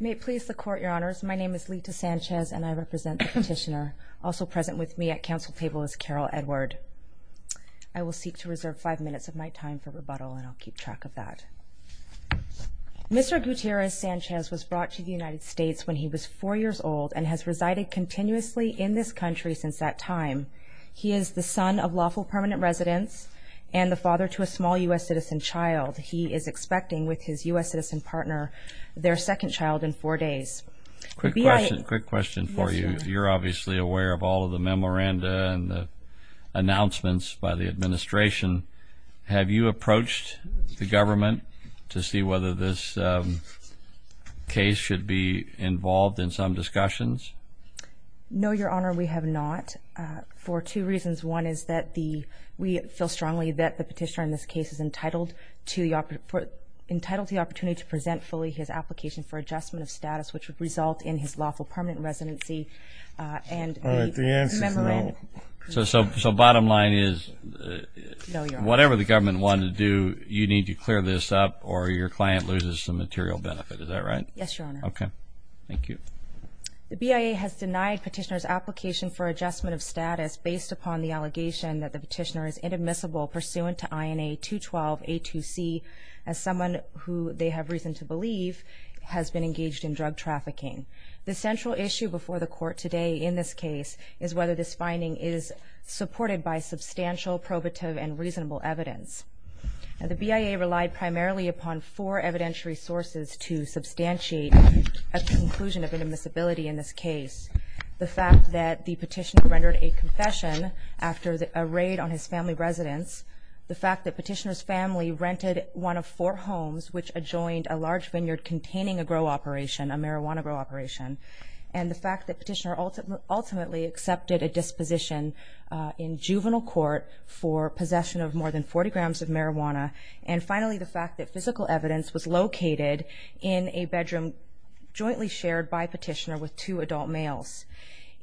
May it please the court, your honors, my name is Lita Sanchez and I represent the petitioner. Also present with me at council table is Carol Edward. I will seek to reserve five minutes of my time for rebuttal and I'll keep track of that. Mr. Guitierrez-Sanchez was brought to the United States when he was four years old and has resided continuously in this country since that time. He is the son of lawful permanent residents and the father to a small U.S. citizen child. He is expecting, with his U.S. citizen partner, their second child in four days. Quick question, quick question for you. You're obviously aware of all of the memoranda and the announcements by the administration. Have you approached the government to see whether this case should be involved in some discussions? No, your honor, we have not for two reasons. One is that we feel strongly that the petitioner in this case is entitled to the opportunity to present fully his application for adjustment of status, which would result in his lawful permanent residency and a memorandum. So bottom line is, whatever the government wanted to do, you need to clear this up or your client loses some material benefit, is that right? Yes, your honor. Okay, thank you. The BIA has denied petitioner's application for adjustment of status based upon the allegation that the petitioner is inadmissible pursuant to INA 212A2C as someone who they have reason to believe has been engaged in drug trafficking. The central issue before the court today in this case is whether this finding is supported by substantial probative and reasonable evidence. The BIA relied primarily upon four evidentiary sources to substantiate a conclusion of inadmissibility in this case. The fact that the petitioner rendered a confession after a raid on his family residence. The fact that petitioner's family rented one of four homes which adjoined a large vineyard containing a grow operation, a marijuana grow operation. And the fact that petitioner ultimately accepted a disposition in juvenile court for possession of more than 40 grams of marijuana. And finally, the fact that physical evidence was located in a bedroom jointly shared by petitioner with two adult males.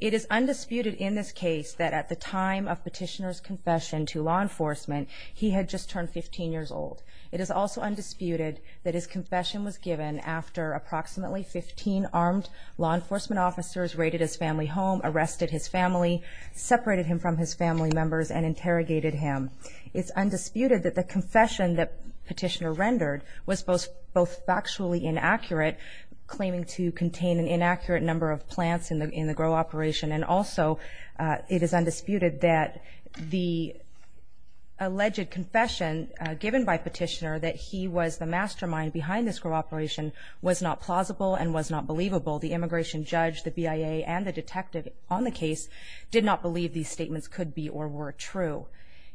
It is undisputed in this case that at the time of petitioner's confession to law enforcement, he had just turned 15 years old. It is also undisputed that his confession was given after approximately 15 armed law enforcement officers raided his family home, arrested his family, separated him from his family members, and interrogated him. It's undisputed that the confession that petitioner rendered was both factually inaccurate, claiming to contain an inaccurate number of plants in the grow operation, and also it is undisputed that the alleged confession given by petitioner that he was the mastermind behind this grow operation was not plausible and was not believable. The immigration judge, the BIA, and the detective on the case did not believe these statements could be or were true.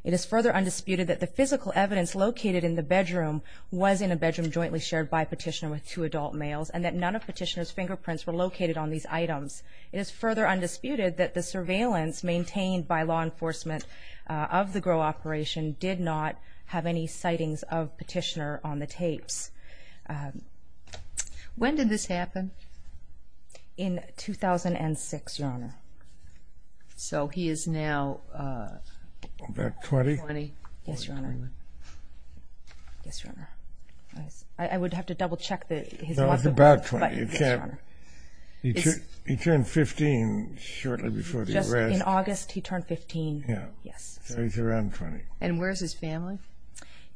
It is further undisputed that the physical evidence located in the bedroom was in a bedroom jointly shared by petitioner with two adult males, and that none of petitioner's fingerprints were located on these items. It is further undisputed that the surveillance maintained by law enforcement of the grow operation did not have any sightings of petitioner on the tapes. When did this happen? In 2006, Your Honor. So he is now about 20? Yes, Your Honor. I would have to double-check that he is about 20. He turned 15 shortly before the arrest. In August, he turned 15. So he is around 20. And where is his family?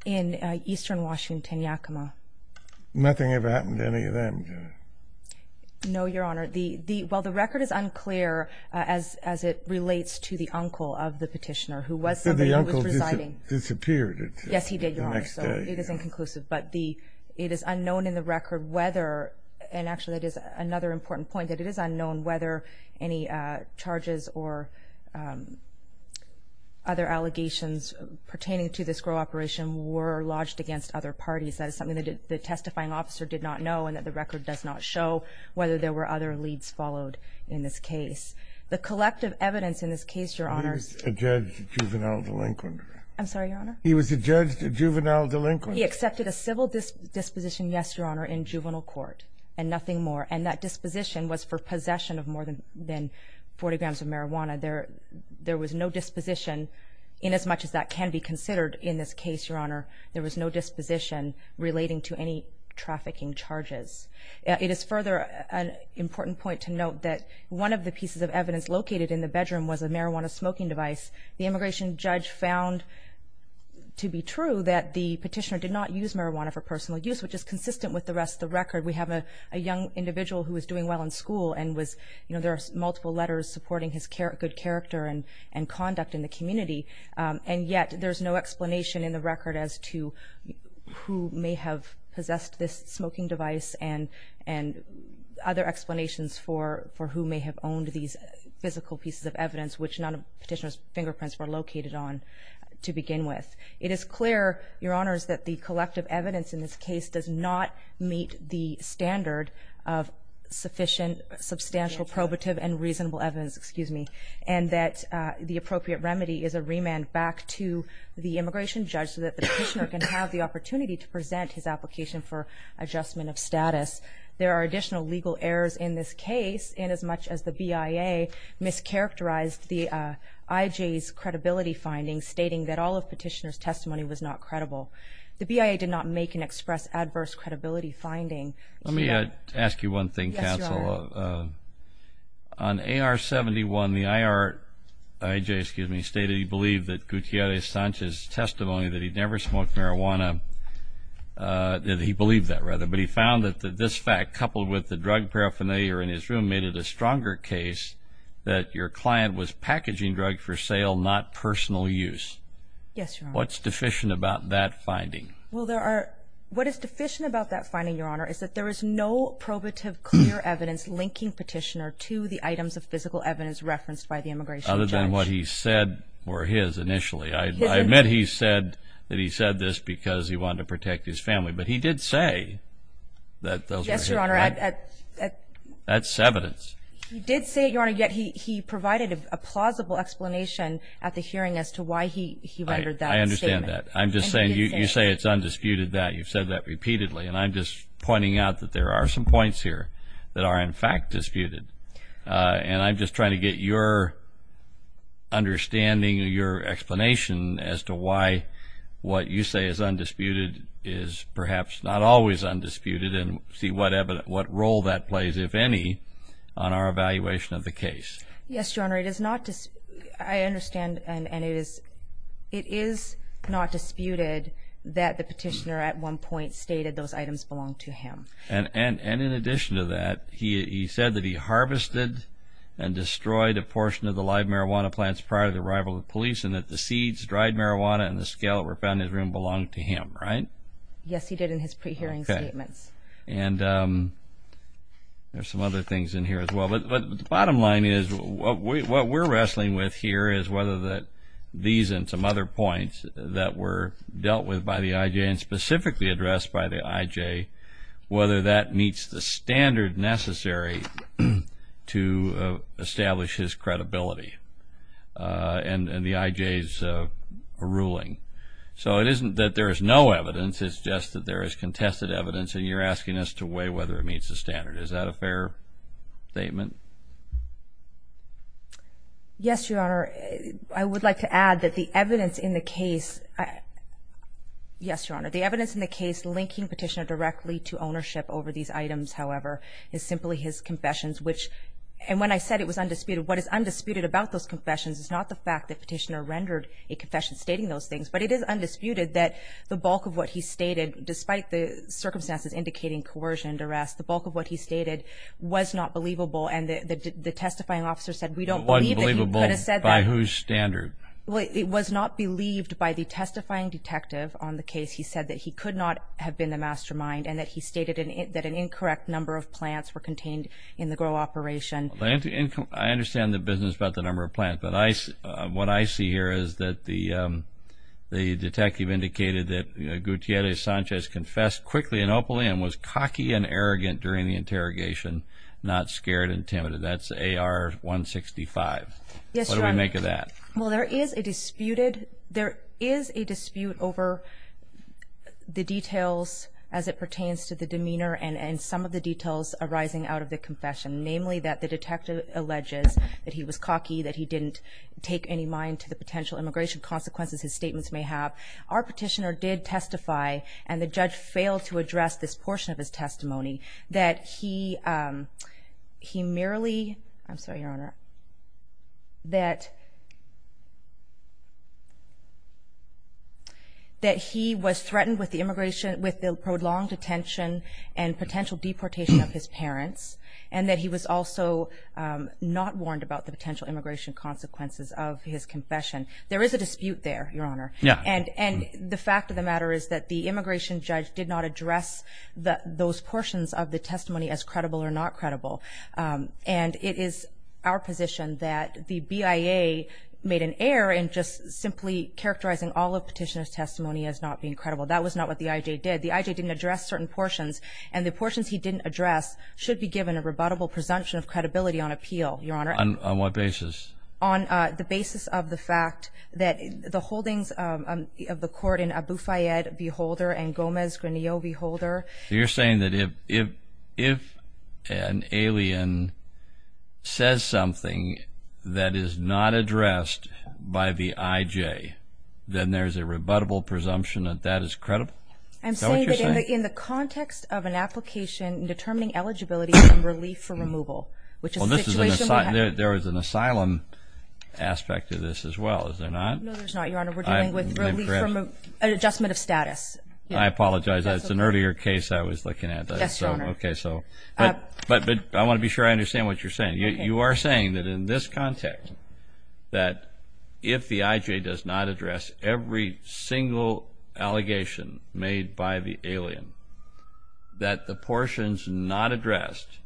In eastern Washington, Yakima. Nothing ever happened to any of them? No, Your Honor. While the record is unclear as it relates to the uncle of the petitioner who was residing. Yes, he did, Your Honor. So it is inconclusive. But it is unknown in the record whether, and actually that is another important point, that it is unknown whether any charges or other allegations pertaining to this grow operation were lodged against other parties. That is something that the testifying officer did not know, and that the record does not show whether there were other leads followed in this case. The collective evidence in this case, Your Honor... He was a judge, a juvenile delinquent. I'm sorry, Your Honor? He was a judge, a juvenile delinquent. He accepted a civil disposition, yes, Your Honor, in juvenile court, and nothing more. And that disposition was for possession of more than 40 grams of marijuana. There was no disposition, inasmuch as that can be considered in this case, Your Honor, there was no disposition relating to any trafficking charges. It is further an important point to note that one of the pieces of evidence located in the bedroom was a marijuana smoking device. The immigration judge found to be true that the petitioner did not use marijuana for personal use, which is consistent with the rest of the record. We have a young individual who was doing well in school and was, you know, there are multiple letters supporting his good character and conduct in the community, and yet there's no explanation in the record as to who may have possessed this smoking device and other explanations for who may have owned these physical pieces of evidence, which none of the petitioner's fingerprints were located on to begin with. It is clear, Your Honor, that the collective evidence in this case does not meet the standard of sufficient, substantial, probative, and reasonable evidence, excuse me, and that the appropriate remedy is a remand back to the immigration judge so that the petitioner can have the opportunity to present his application for adjustment of status. There are additional legal errors in this case, and as much as the BIA mischaracterized the IJ's credibility findings, stating that all of the petitioner's testimony was not credible, the BIA did not make an express adverse credibility finding. Yes, Your Honor. On AR-71, the IJ stated he believed that Gutierrez-Sanchez's testimony that he'd never smoked marijuana, that he believed that, rather, but he found that this fact, coupled with the drug paraphernalia in his room, made it a stronger case that your client was packaging drug for sale, not personal use. Yes, Your Honor. What's deficient about that finding? Well, what is deficient about that finding, Your Honor, is that there is no probative clear evidence linking petitioner to the items of physical evidence referenced by the immigration judge. Other than what he said were his initially. I admit he said that he said this because he wanted to protect his family, but he did say that those were his. Yes, Your Honor. That's evidence. He did say it, Your Honor, yet he provided a plausible explanation at the hearing as to why he rendered that statement. I understand that. I'm just saying you say it's undisputed that you've said that repeatedly, and I'm just pointing out that there are some points here that are, in fact, disputed, and I'm just trying to get your understanding or your explanation as to why what you say is undisputed is perhaps not always undisputed and see what role that plays, if any, on our evaluation of the case. Yes, Your Honor, it is not disputed. that the petitioner at one point stated those items belonged to him. And in addition to that, he said that he harvested and destroyed a portion of the live marijuana plants prior to the arrival of the police and that the seeds, dried marijuana, and the scallop were found in his room and belonged to him, right? Yes, he did in his pre-hearing statements. And there are some other things in here as well. But the bottom line is what we're wrestling with here is whether these and some other points that were dealt with by the IJ and specifically addressed by the IJ, whether that meets the standard necessary to establish his credibility and the IJ's ruling. So it isn't that there is no evidence, it's just that there is contested evidence, and you're asking us to weigh whether it meets the standard. Is that a fair statement? Yes, Your Honor. I would like to add that the evidence in the case, yes, Your Honor, the evidence in the case linking Petitioner directly to ownership over these items, however, is simply his confessions. And when I said it was undisputed, what is undisputed about those confessions is not the fact that Petitioner rendered a confession stating those things, but it is undisputed that the bulk of what he stated, despite the circumstances indicating coercion and duress, the bulk of what he stated was not believable. And the testifying officer said we don't believe that he could have said that. It wasn't believable by whose standard? Well, it was not believed by the testifying detective on the case. He said that he could not have been the mastermind and that he stated that an incorrect number of plants were contained in the grow operation. I understand the business about the number of plants, but what I see here is that the detective indicated that Gutierrez-Sanchez confessed quickly and openly and was cocky and arrogant during the interrogation, not scared and timid. That's AR-165. Yes, Your Honor. What do we make of that? Well, there is a dispute over the details as it pertains to the demeanor and some of the details arising out of the confession, namely that the detective alleges that he was cocky, that he didn't take any mind to the potential immigration consequences his statements may have. Our petitioner did testify, and the judge failed to address this portion of his testimony, that he merely was threatened with the prolonged detention and potential deportation of his parents and that he was also not warned about the potential immigration consequences of his confession. There is a dispute there, Your Honor. Yes. And the fact of the matter is that the immigration judge did not address those portions of the testimony as credible or not credible, and it is our position that the BIA made an error in just simply characterizing all of the petitioner's testimony as not being credible. That was not what the IJ did. The IJ didn't address certain portions, and the portions he didn't address should be given a rebuttable presumption of credibility on appeal, Your Honor. On what basis? On the basis of the fact that the holdings of the court in Abu Fayyad v. Holder and Gomez-Granillo v. Holder. So you're saying that if an alien says something that is not addressed by the IJ, then there's a rebuttable presumption that that is credible? Is that what you're saying? I'm saying that in the context of an application determining eligibility and relief for removal, which is a situation where there is an asylum aspect to this as well, is there not? No, there's not, Your Honor. We're dealing with relief from an adjustment of status. I apologize. That's an earlier case I was looking at. Yes, Your Honor. But I want to be sure I understand what you're saying. You are saying that in this context, that if the IJ does not address every single allegation made by the alien, that the portions not addressed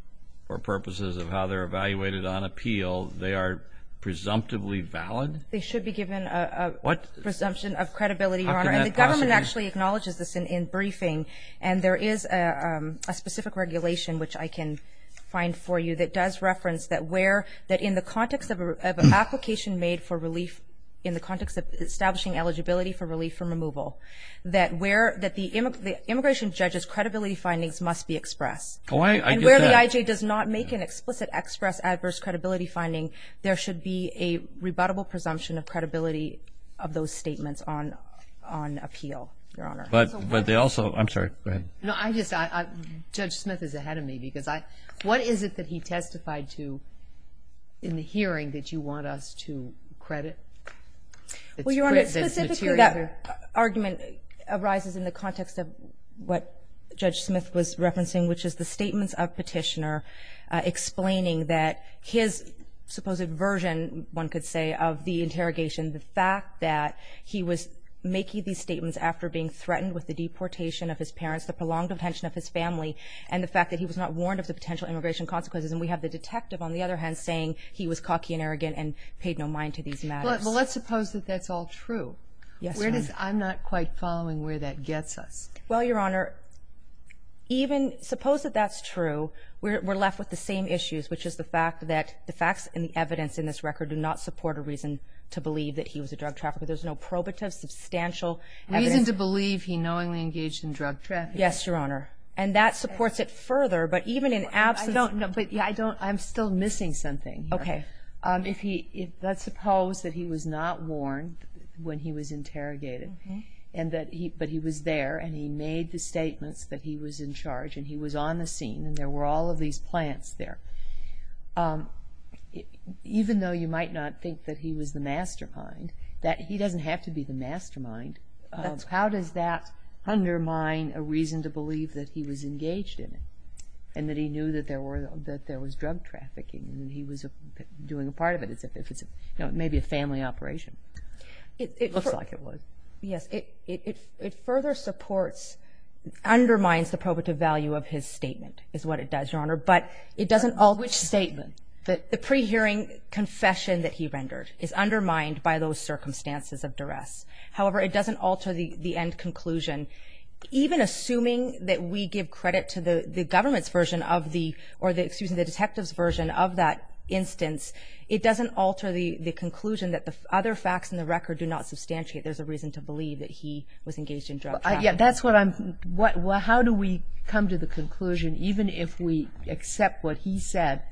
for purposes of how they're evaluated on appeal, they are presumptively valid? They should be given a presumption of credibility, Your Honor. And the government actually acknowledges this in briefing, and there is a specific regulation, which I can find for you, that does reference that in the context of an application made for relief, in the context of establishing eligibility for relief from removal, that the immigration judge's credibility findings must be expressed. I get that. And where the IJ does not make an explicit express adverse credibility finding, there should be a rebuttable presumption of credibility of those statements on appeal, Your Honor. But they also, I'm sorry, go ahead. No, I just, Judge Smith is ahead of me, because what is it that he testified to in the hearing that you want us to credit? Well, Your Honor, specifically that argument arises in the context of what Judge Smith was referencing, which is the statements of Petitioner explaining that his supposed version, one could say, of the interrogation, the fact that he was making these statements after being threatened with the deportation of his parents, the prolonged detention of his family, and the fact that he was not warned of the potential immigration consequences. And we have the detective, on the other hand, saying he was cocky and arrogant and paid no mind to these matters. Well, let's suppose that that's all true. Yes, Your Honor. I'm not quite following where that gets us. Well, Your Honor, even suppose that that's true. We're left with the same issues, which is the fact that the facts and the evidence in this record do not support a reason to believe that he was a drug trafficker. There's no probative, substantial evidence. Reason to believe he knowingly engaged in drug trafficking. Yes, Your Honor. And that supports it further, but even in absence of the evidence. But I'm still missing something here. Okay. Let's suppose that he was not warned when he was interrogated, but he was there and he made the statements that he was in charge and he was on the scene and there were all of these plants there. Even though you might not think that he was the mastermind, he doesn't have to be the mastermind. How does that undermine a reason to believe that he was engaged in it and that he knew that there was drug trafficking and he was doing a part of it as if it's maybe a family operation? It looks like it was. Yes. It further supports, undermines the probative value of his statement, is what it does, Your Honor. Which statement? The pre-hearing confession that he rendered is undermined by those circumstances of duress. However, it doesn't alter the end conclusion. Even assuming that we give credit to the government's version of the or the detective's version of that instance, it doesn't alter the conclusion that the other facts in the record do not substantiate there's a reason to believe that he was engaged in drug trafficking. How do we come to the conclusion, even if we accept what he said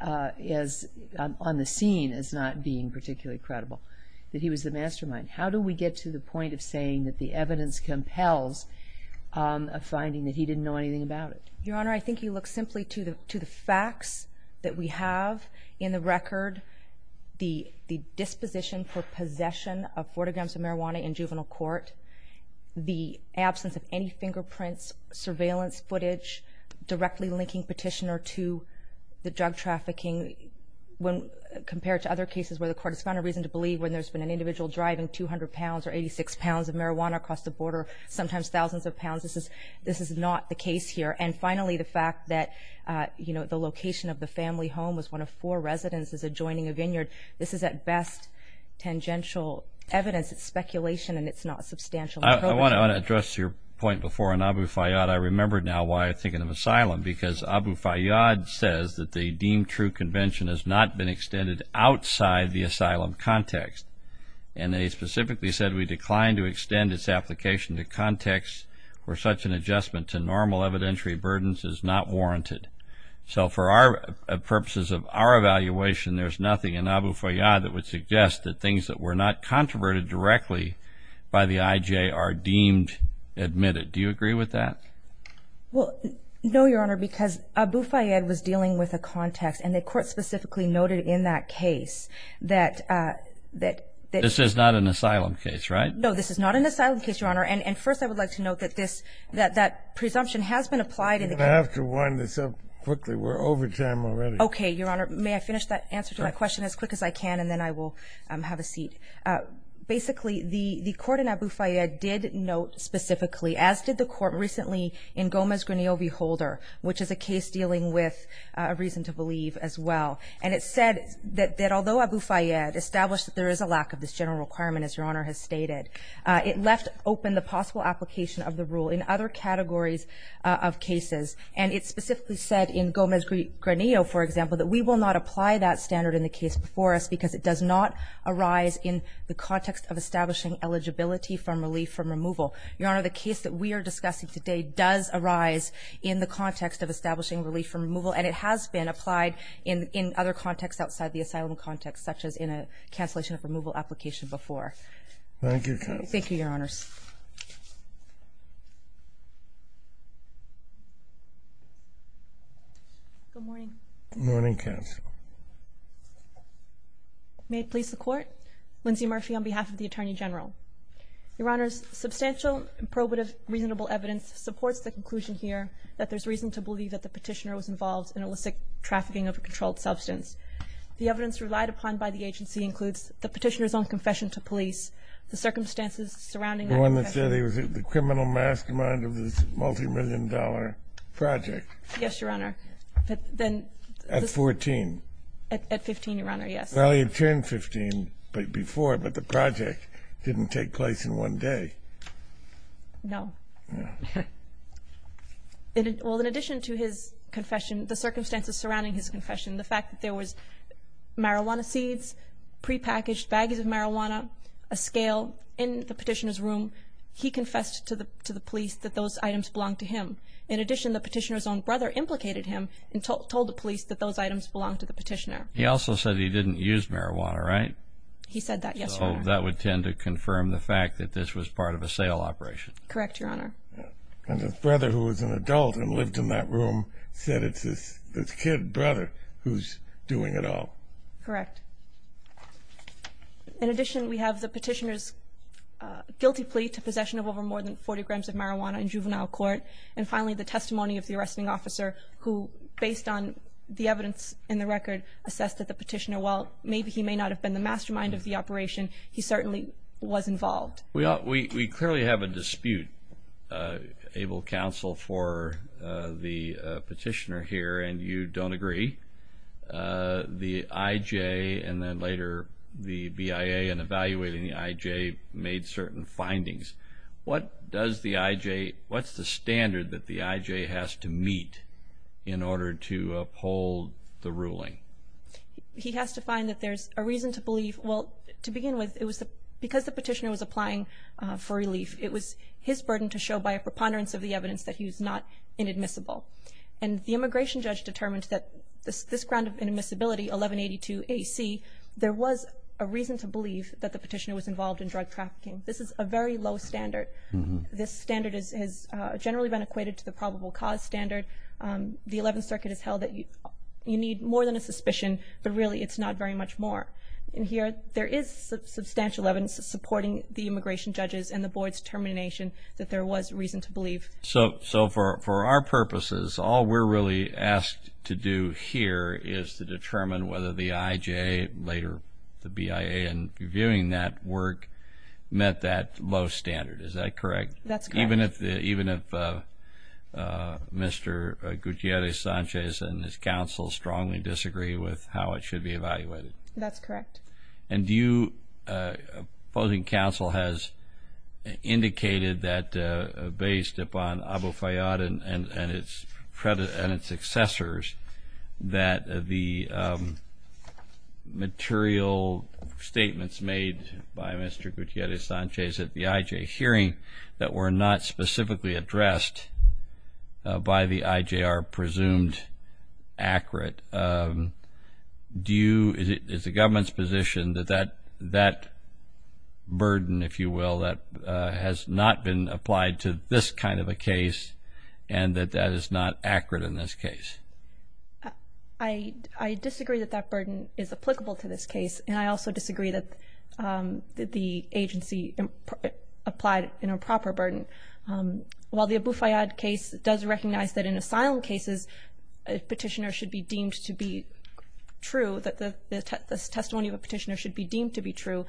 on the scene as not being particularly credible, that he was the mastermind? How do we get to the point of saying that the evidence compels a finding that he didn't know anything about it? Your Honor, I think you look simply to the facts that we have in the record, the disposition for possession of 40 grams of marijuana in juvenile court, the absence of any fingerprints, surveillance footage, directly linking petitioner to the drug trafficking, when there's been an individual driving 200 pounds or 86 pounds of marijuana across the border, sometimes thousands of pounds. This is not the case here. And finally, the fact that the location of the family home was one of four residences adjoining a vineyard. This is, at best, tangential evidence. It's speculation, and it's not substantially proven. I want to address your point before on Abu Fayyad. I remember now why I'm thinking of asylum, because Abu Fayyad says that the deemed true convention has not been extended outside the asylum context. And they specifically said we declined to extend its application to contexts where such an adjustment to normal evidentiary burdens is not warranted. So for purposes of our evaluation, there's nothing in Abu Fayyad that would suggest that things that were not controverted directly by the IJ are deemed admitted. Do you agree with that? No, Your Honor, because Abu Fayyad was dealing with a context, and the court specifically noted in that case that... This is not an asylum case, right? No, this is not an asylum case, Your Honor. And first I would like to note that that presumption has been applied in the case. I'm going to have to wind this up quickly. We're over time already. Okay, Your Honor. May I finish that answer to my question as quick as I can, and then I will have a seat? Basically, the court in Abu Fayyad did note specifically, as did the court recently in Gomez-Granillo v. Holder, which is a case dealing with a reason to believe as well. And it said that although Abu Fayyad established that there is a lack of this general requirement, as Your Honor has stated, it left open the possible application of the rule in other categories of cases. And it specifically said in Gomez-Granillo, for example, that we will not apply that standard in the case before us because it does not arise in the context of establishing eligibility from relief from removal. Your Honor, the case that we are discussing today does arise in the context of establishing relief from removal, and it has been applied in other contexts outside the asylum context, such as in a cancellation of removal application before. Thank you, Counsel. Thank you, Your Honors. Good morning. Good morning, Counsel. May it please the Court. Lindsay Murphy on behalf of the Attorney General. Your Honors, substantial and probative reasonable evidence supports the conclusion here that there's reason to believe that the Petitioner was involved in illicit trafficking of a controlled substance. The evidence relied upon by the agency includes the Petitioner's own confession to police, the circumstances surrounding that confession. The one that said he was the criminal mastermind of this multimillion-dollar project. Yes, Your Honor. At 14. At 15, Your Honor, yes. Well, he had turned 15 before, but the project didn't take place in one day. No. No. Well, in addition to his confession, the circumstances surrounding his confession, the fact that there was marijuana seeds, prepackaged bags of marijuana, a scale in the Petitioner's room, he confessed to the police that those items belonged to him. In addition, the Petitioner's own brother implicated him and told the police that those items belonged to the Petitioner. He also said he didn't use marijuana, right? He said that, yes, Your Honor. So that would tend to confirm the fact that this was part of a sale operation. Correct, Your Honor. And his brother, who was an adult and lived in that room, said it's his kid brother who's doing it all. Correct. In addition, we have the Petitioner's guilty plea to possession of over more than 40 grams of marijuana in juvenile court, and finally the testimony of the arresting officer who, based on the evidence in the record, assessed that the Petitioner, while maybe he may not have been the mastermind of the operation, he certainly was involved. We clearly have a dispute, Able Counsel, for the Petitioner here, and you don't agree. The IJ and then later the BIA in evaluating the IJ made certain findings. What does the IJ, what's the standard that the IJ has to meet in order to uphold the ruling? He has to find that there's a reason to believe, well, to begin with, because the Petitioner was applying for relief, it was his burden to show by a preponderance of the evidence that he was not inadmissible. And the immigration judge determined that this ground of inadmissibility, 1182 AC, there was a reason to believe that the Petitioner was involved in drug trafficking. This is a very low standard. This standard has generally been equated to the probable cause standard. The Eleventh Circuit has held that you need more than a suspicion, but really it's not very much more. And here there is substantial evidence supporting the immigration judges and the Board's determination that there was reason to believe. So for our purposes, all we're really asked to do here is to determine whether the IJ, later the BIA in reviewing that work, met that low standard. Is that correct? That's correct. Even if Mr. Gutierrez-Sanchez and his counsel strongly disagree with how it should be evaluated? That's correct. And do you, opposing counsel has indicated that based upon Abu Fayyad and its successors, that the material statements made by Mr. Gutierrez-Sanchez at the IJ hearing that were not specifically addressed by the IJ are presumed accurate. Is the government's position that that burden, if you will, has not been applied to this kind of a case and that that is not accurate in this case? I disagree that that burden is applicable to this case, and I also disagree that the agency applied an improper burden. While the Abu Fayyad case does recognize that in asylum cases, a petitioner should be deemed to be true, that the testimony of a petitioner should be deemed to be true,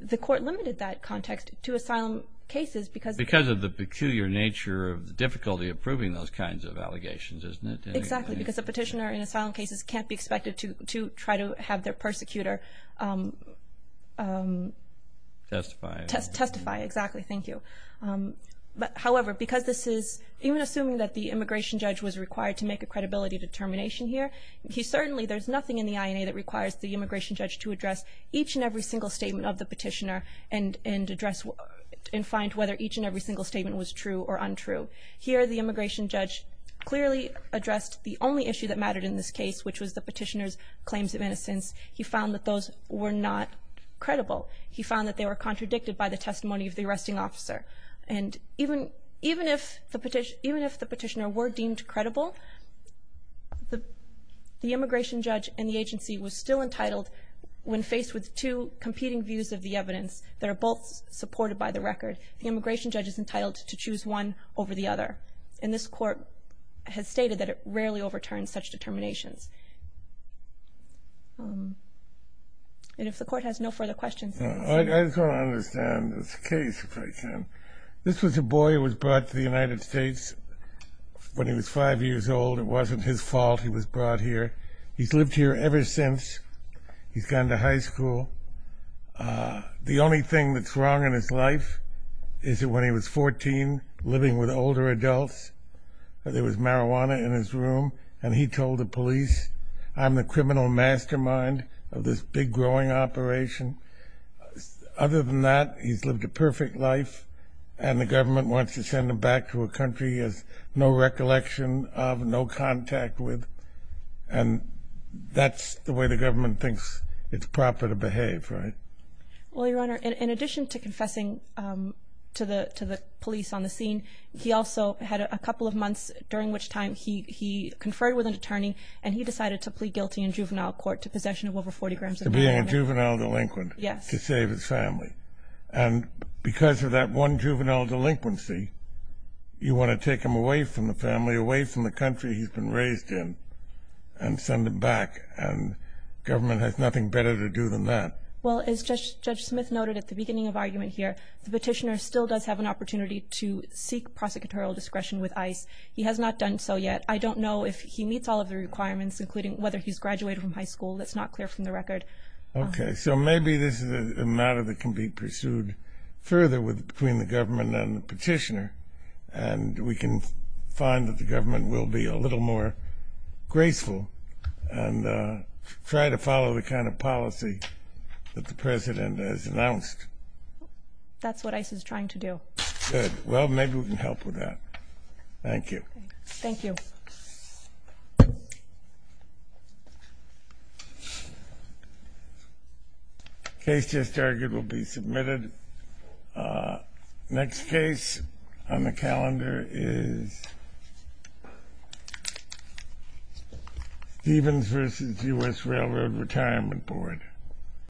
the court limited that context to asylum cases because of the peculiar nature of the difficulty of proving those kinds of allegations, isn't it? Exactly, because a petitioner in asylum cases can't be expected to try to have their persecutor testify. Exactly, thank you. However, because this is, even assuming that the immigration judge was required to make a credibility determination here, certainly there's nothing in the INA that requires the immigration judge to address each and every single statement of the petitioner and find whether each and every single statement was true or untrue. Here, the immigration judge clearly addressed the only issue that mattered in this case, which was the petitioner's claims of innocence. He found that those were not credible. He found that they were contradicted by the testimony of the arresting officer. And even if the petitioner were deemed credible, the immigration judge and the agency were still entitled, when faced with two competing views of the evidence that are both supported by the record, the immigration judge is entitled to choose one over the other. And this court has stated that it rarely overturns such determinations. And if the court has no further questions. I just want to understand this case, if I can. This was a boy who was brought to the United States when he was five years old. It wasn't his fault he was brought here. He's lived here ever since. He's gone to high school. The only thing that's wrong in his life is that when he was 14, living with older adults, there was marijuana in his room, and he told the police, I'm the criminal mastermind of this big growing operation. Other than that, he's lived a perfect life, and the government wants to send him back to a country he has no recollection of, no contact with, and that's the way the government thinks it's proper to behave, right? Well, Your Honor, in addition to confessing to the police on the scene, he also had a couple of months during which time he conferred with an attorney, and he decided to plead guilty in juvenile court to possession of over 40 grams of marijuana. To being a juvenile delinquent. Yes. To save his family. And because of that one juvenile delinquency, you want to take him away from the family, away from the country he's been raised in, and send him back, and government has nothing better to do than that. Well, as Judge Smith noted at the beginning of argument here, the petitioner still does have an opportunity to seek prosecutorial discretion with ICE. He has not done so yet. I don't know if he meets all of the requirements, including whether he's graduated from high school. That's not clear from the record. Okay. So maybe this is a matter that can be pursued further between the government and the petitioner, and we can find that the government will be a little more graceful and try to follow the kind of policy that the President has announced. That's what ICE is trying to do. Good. Well, maybe we can help with that. Thank you. Thank you. Case just argued will be submitted. Next case on the calendar is Stevens v. U.S. Railroad Retirement Board.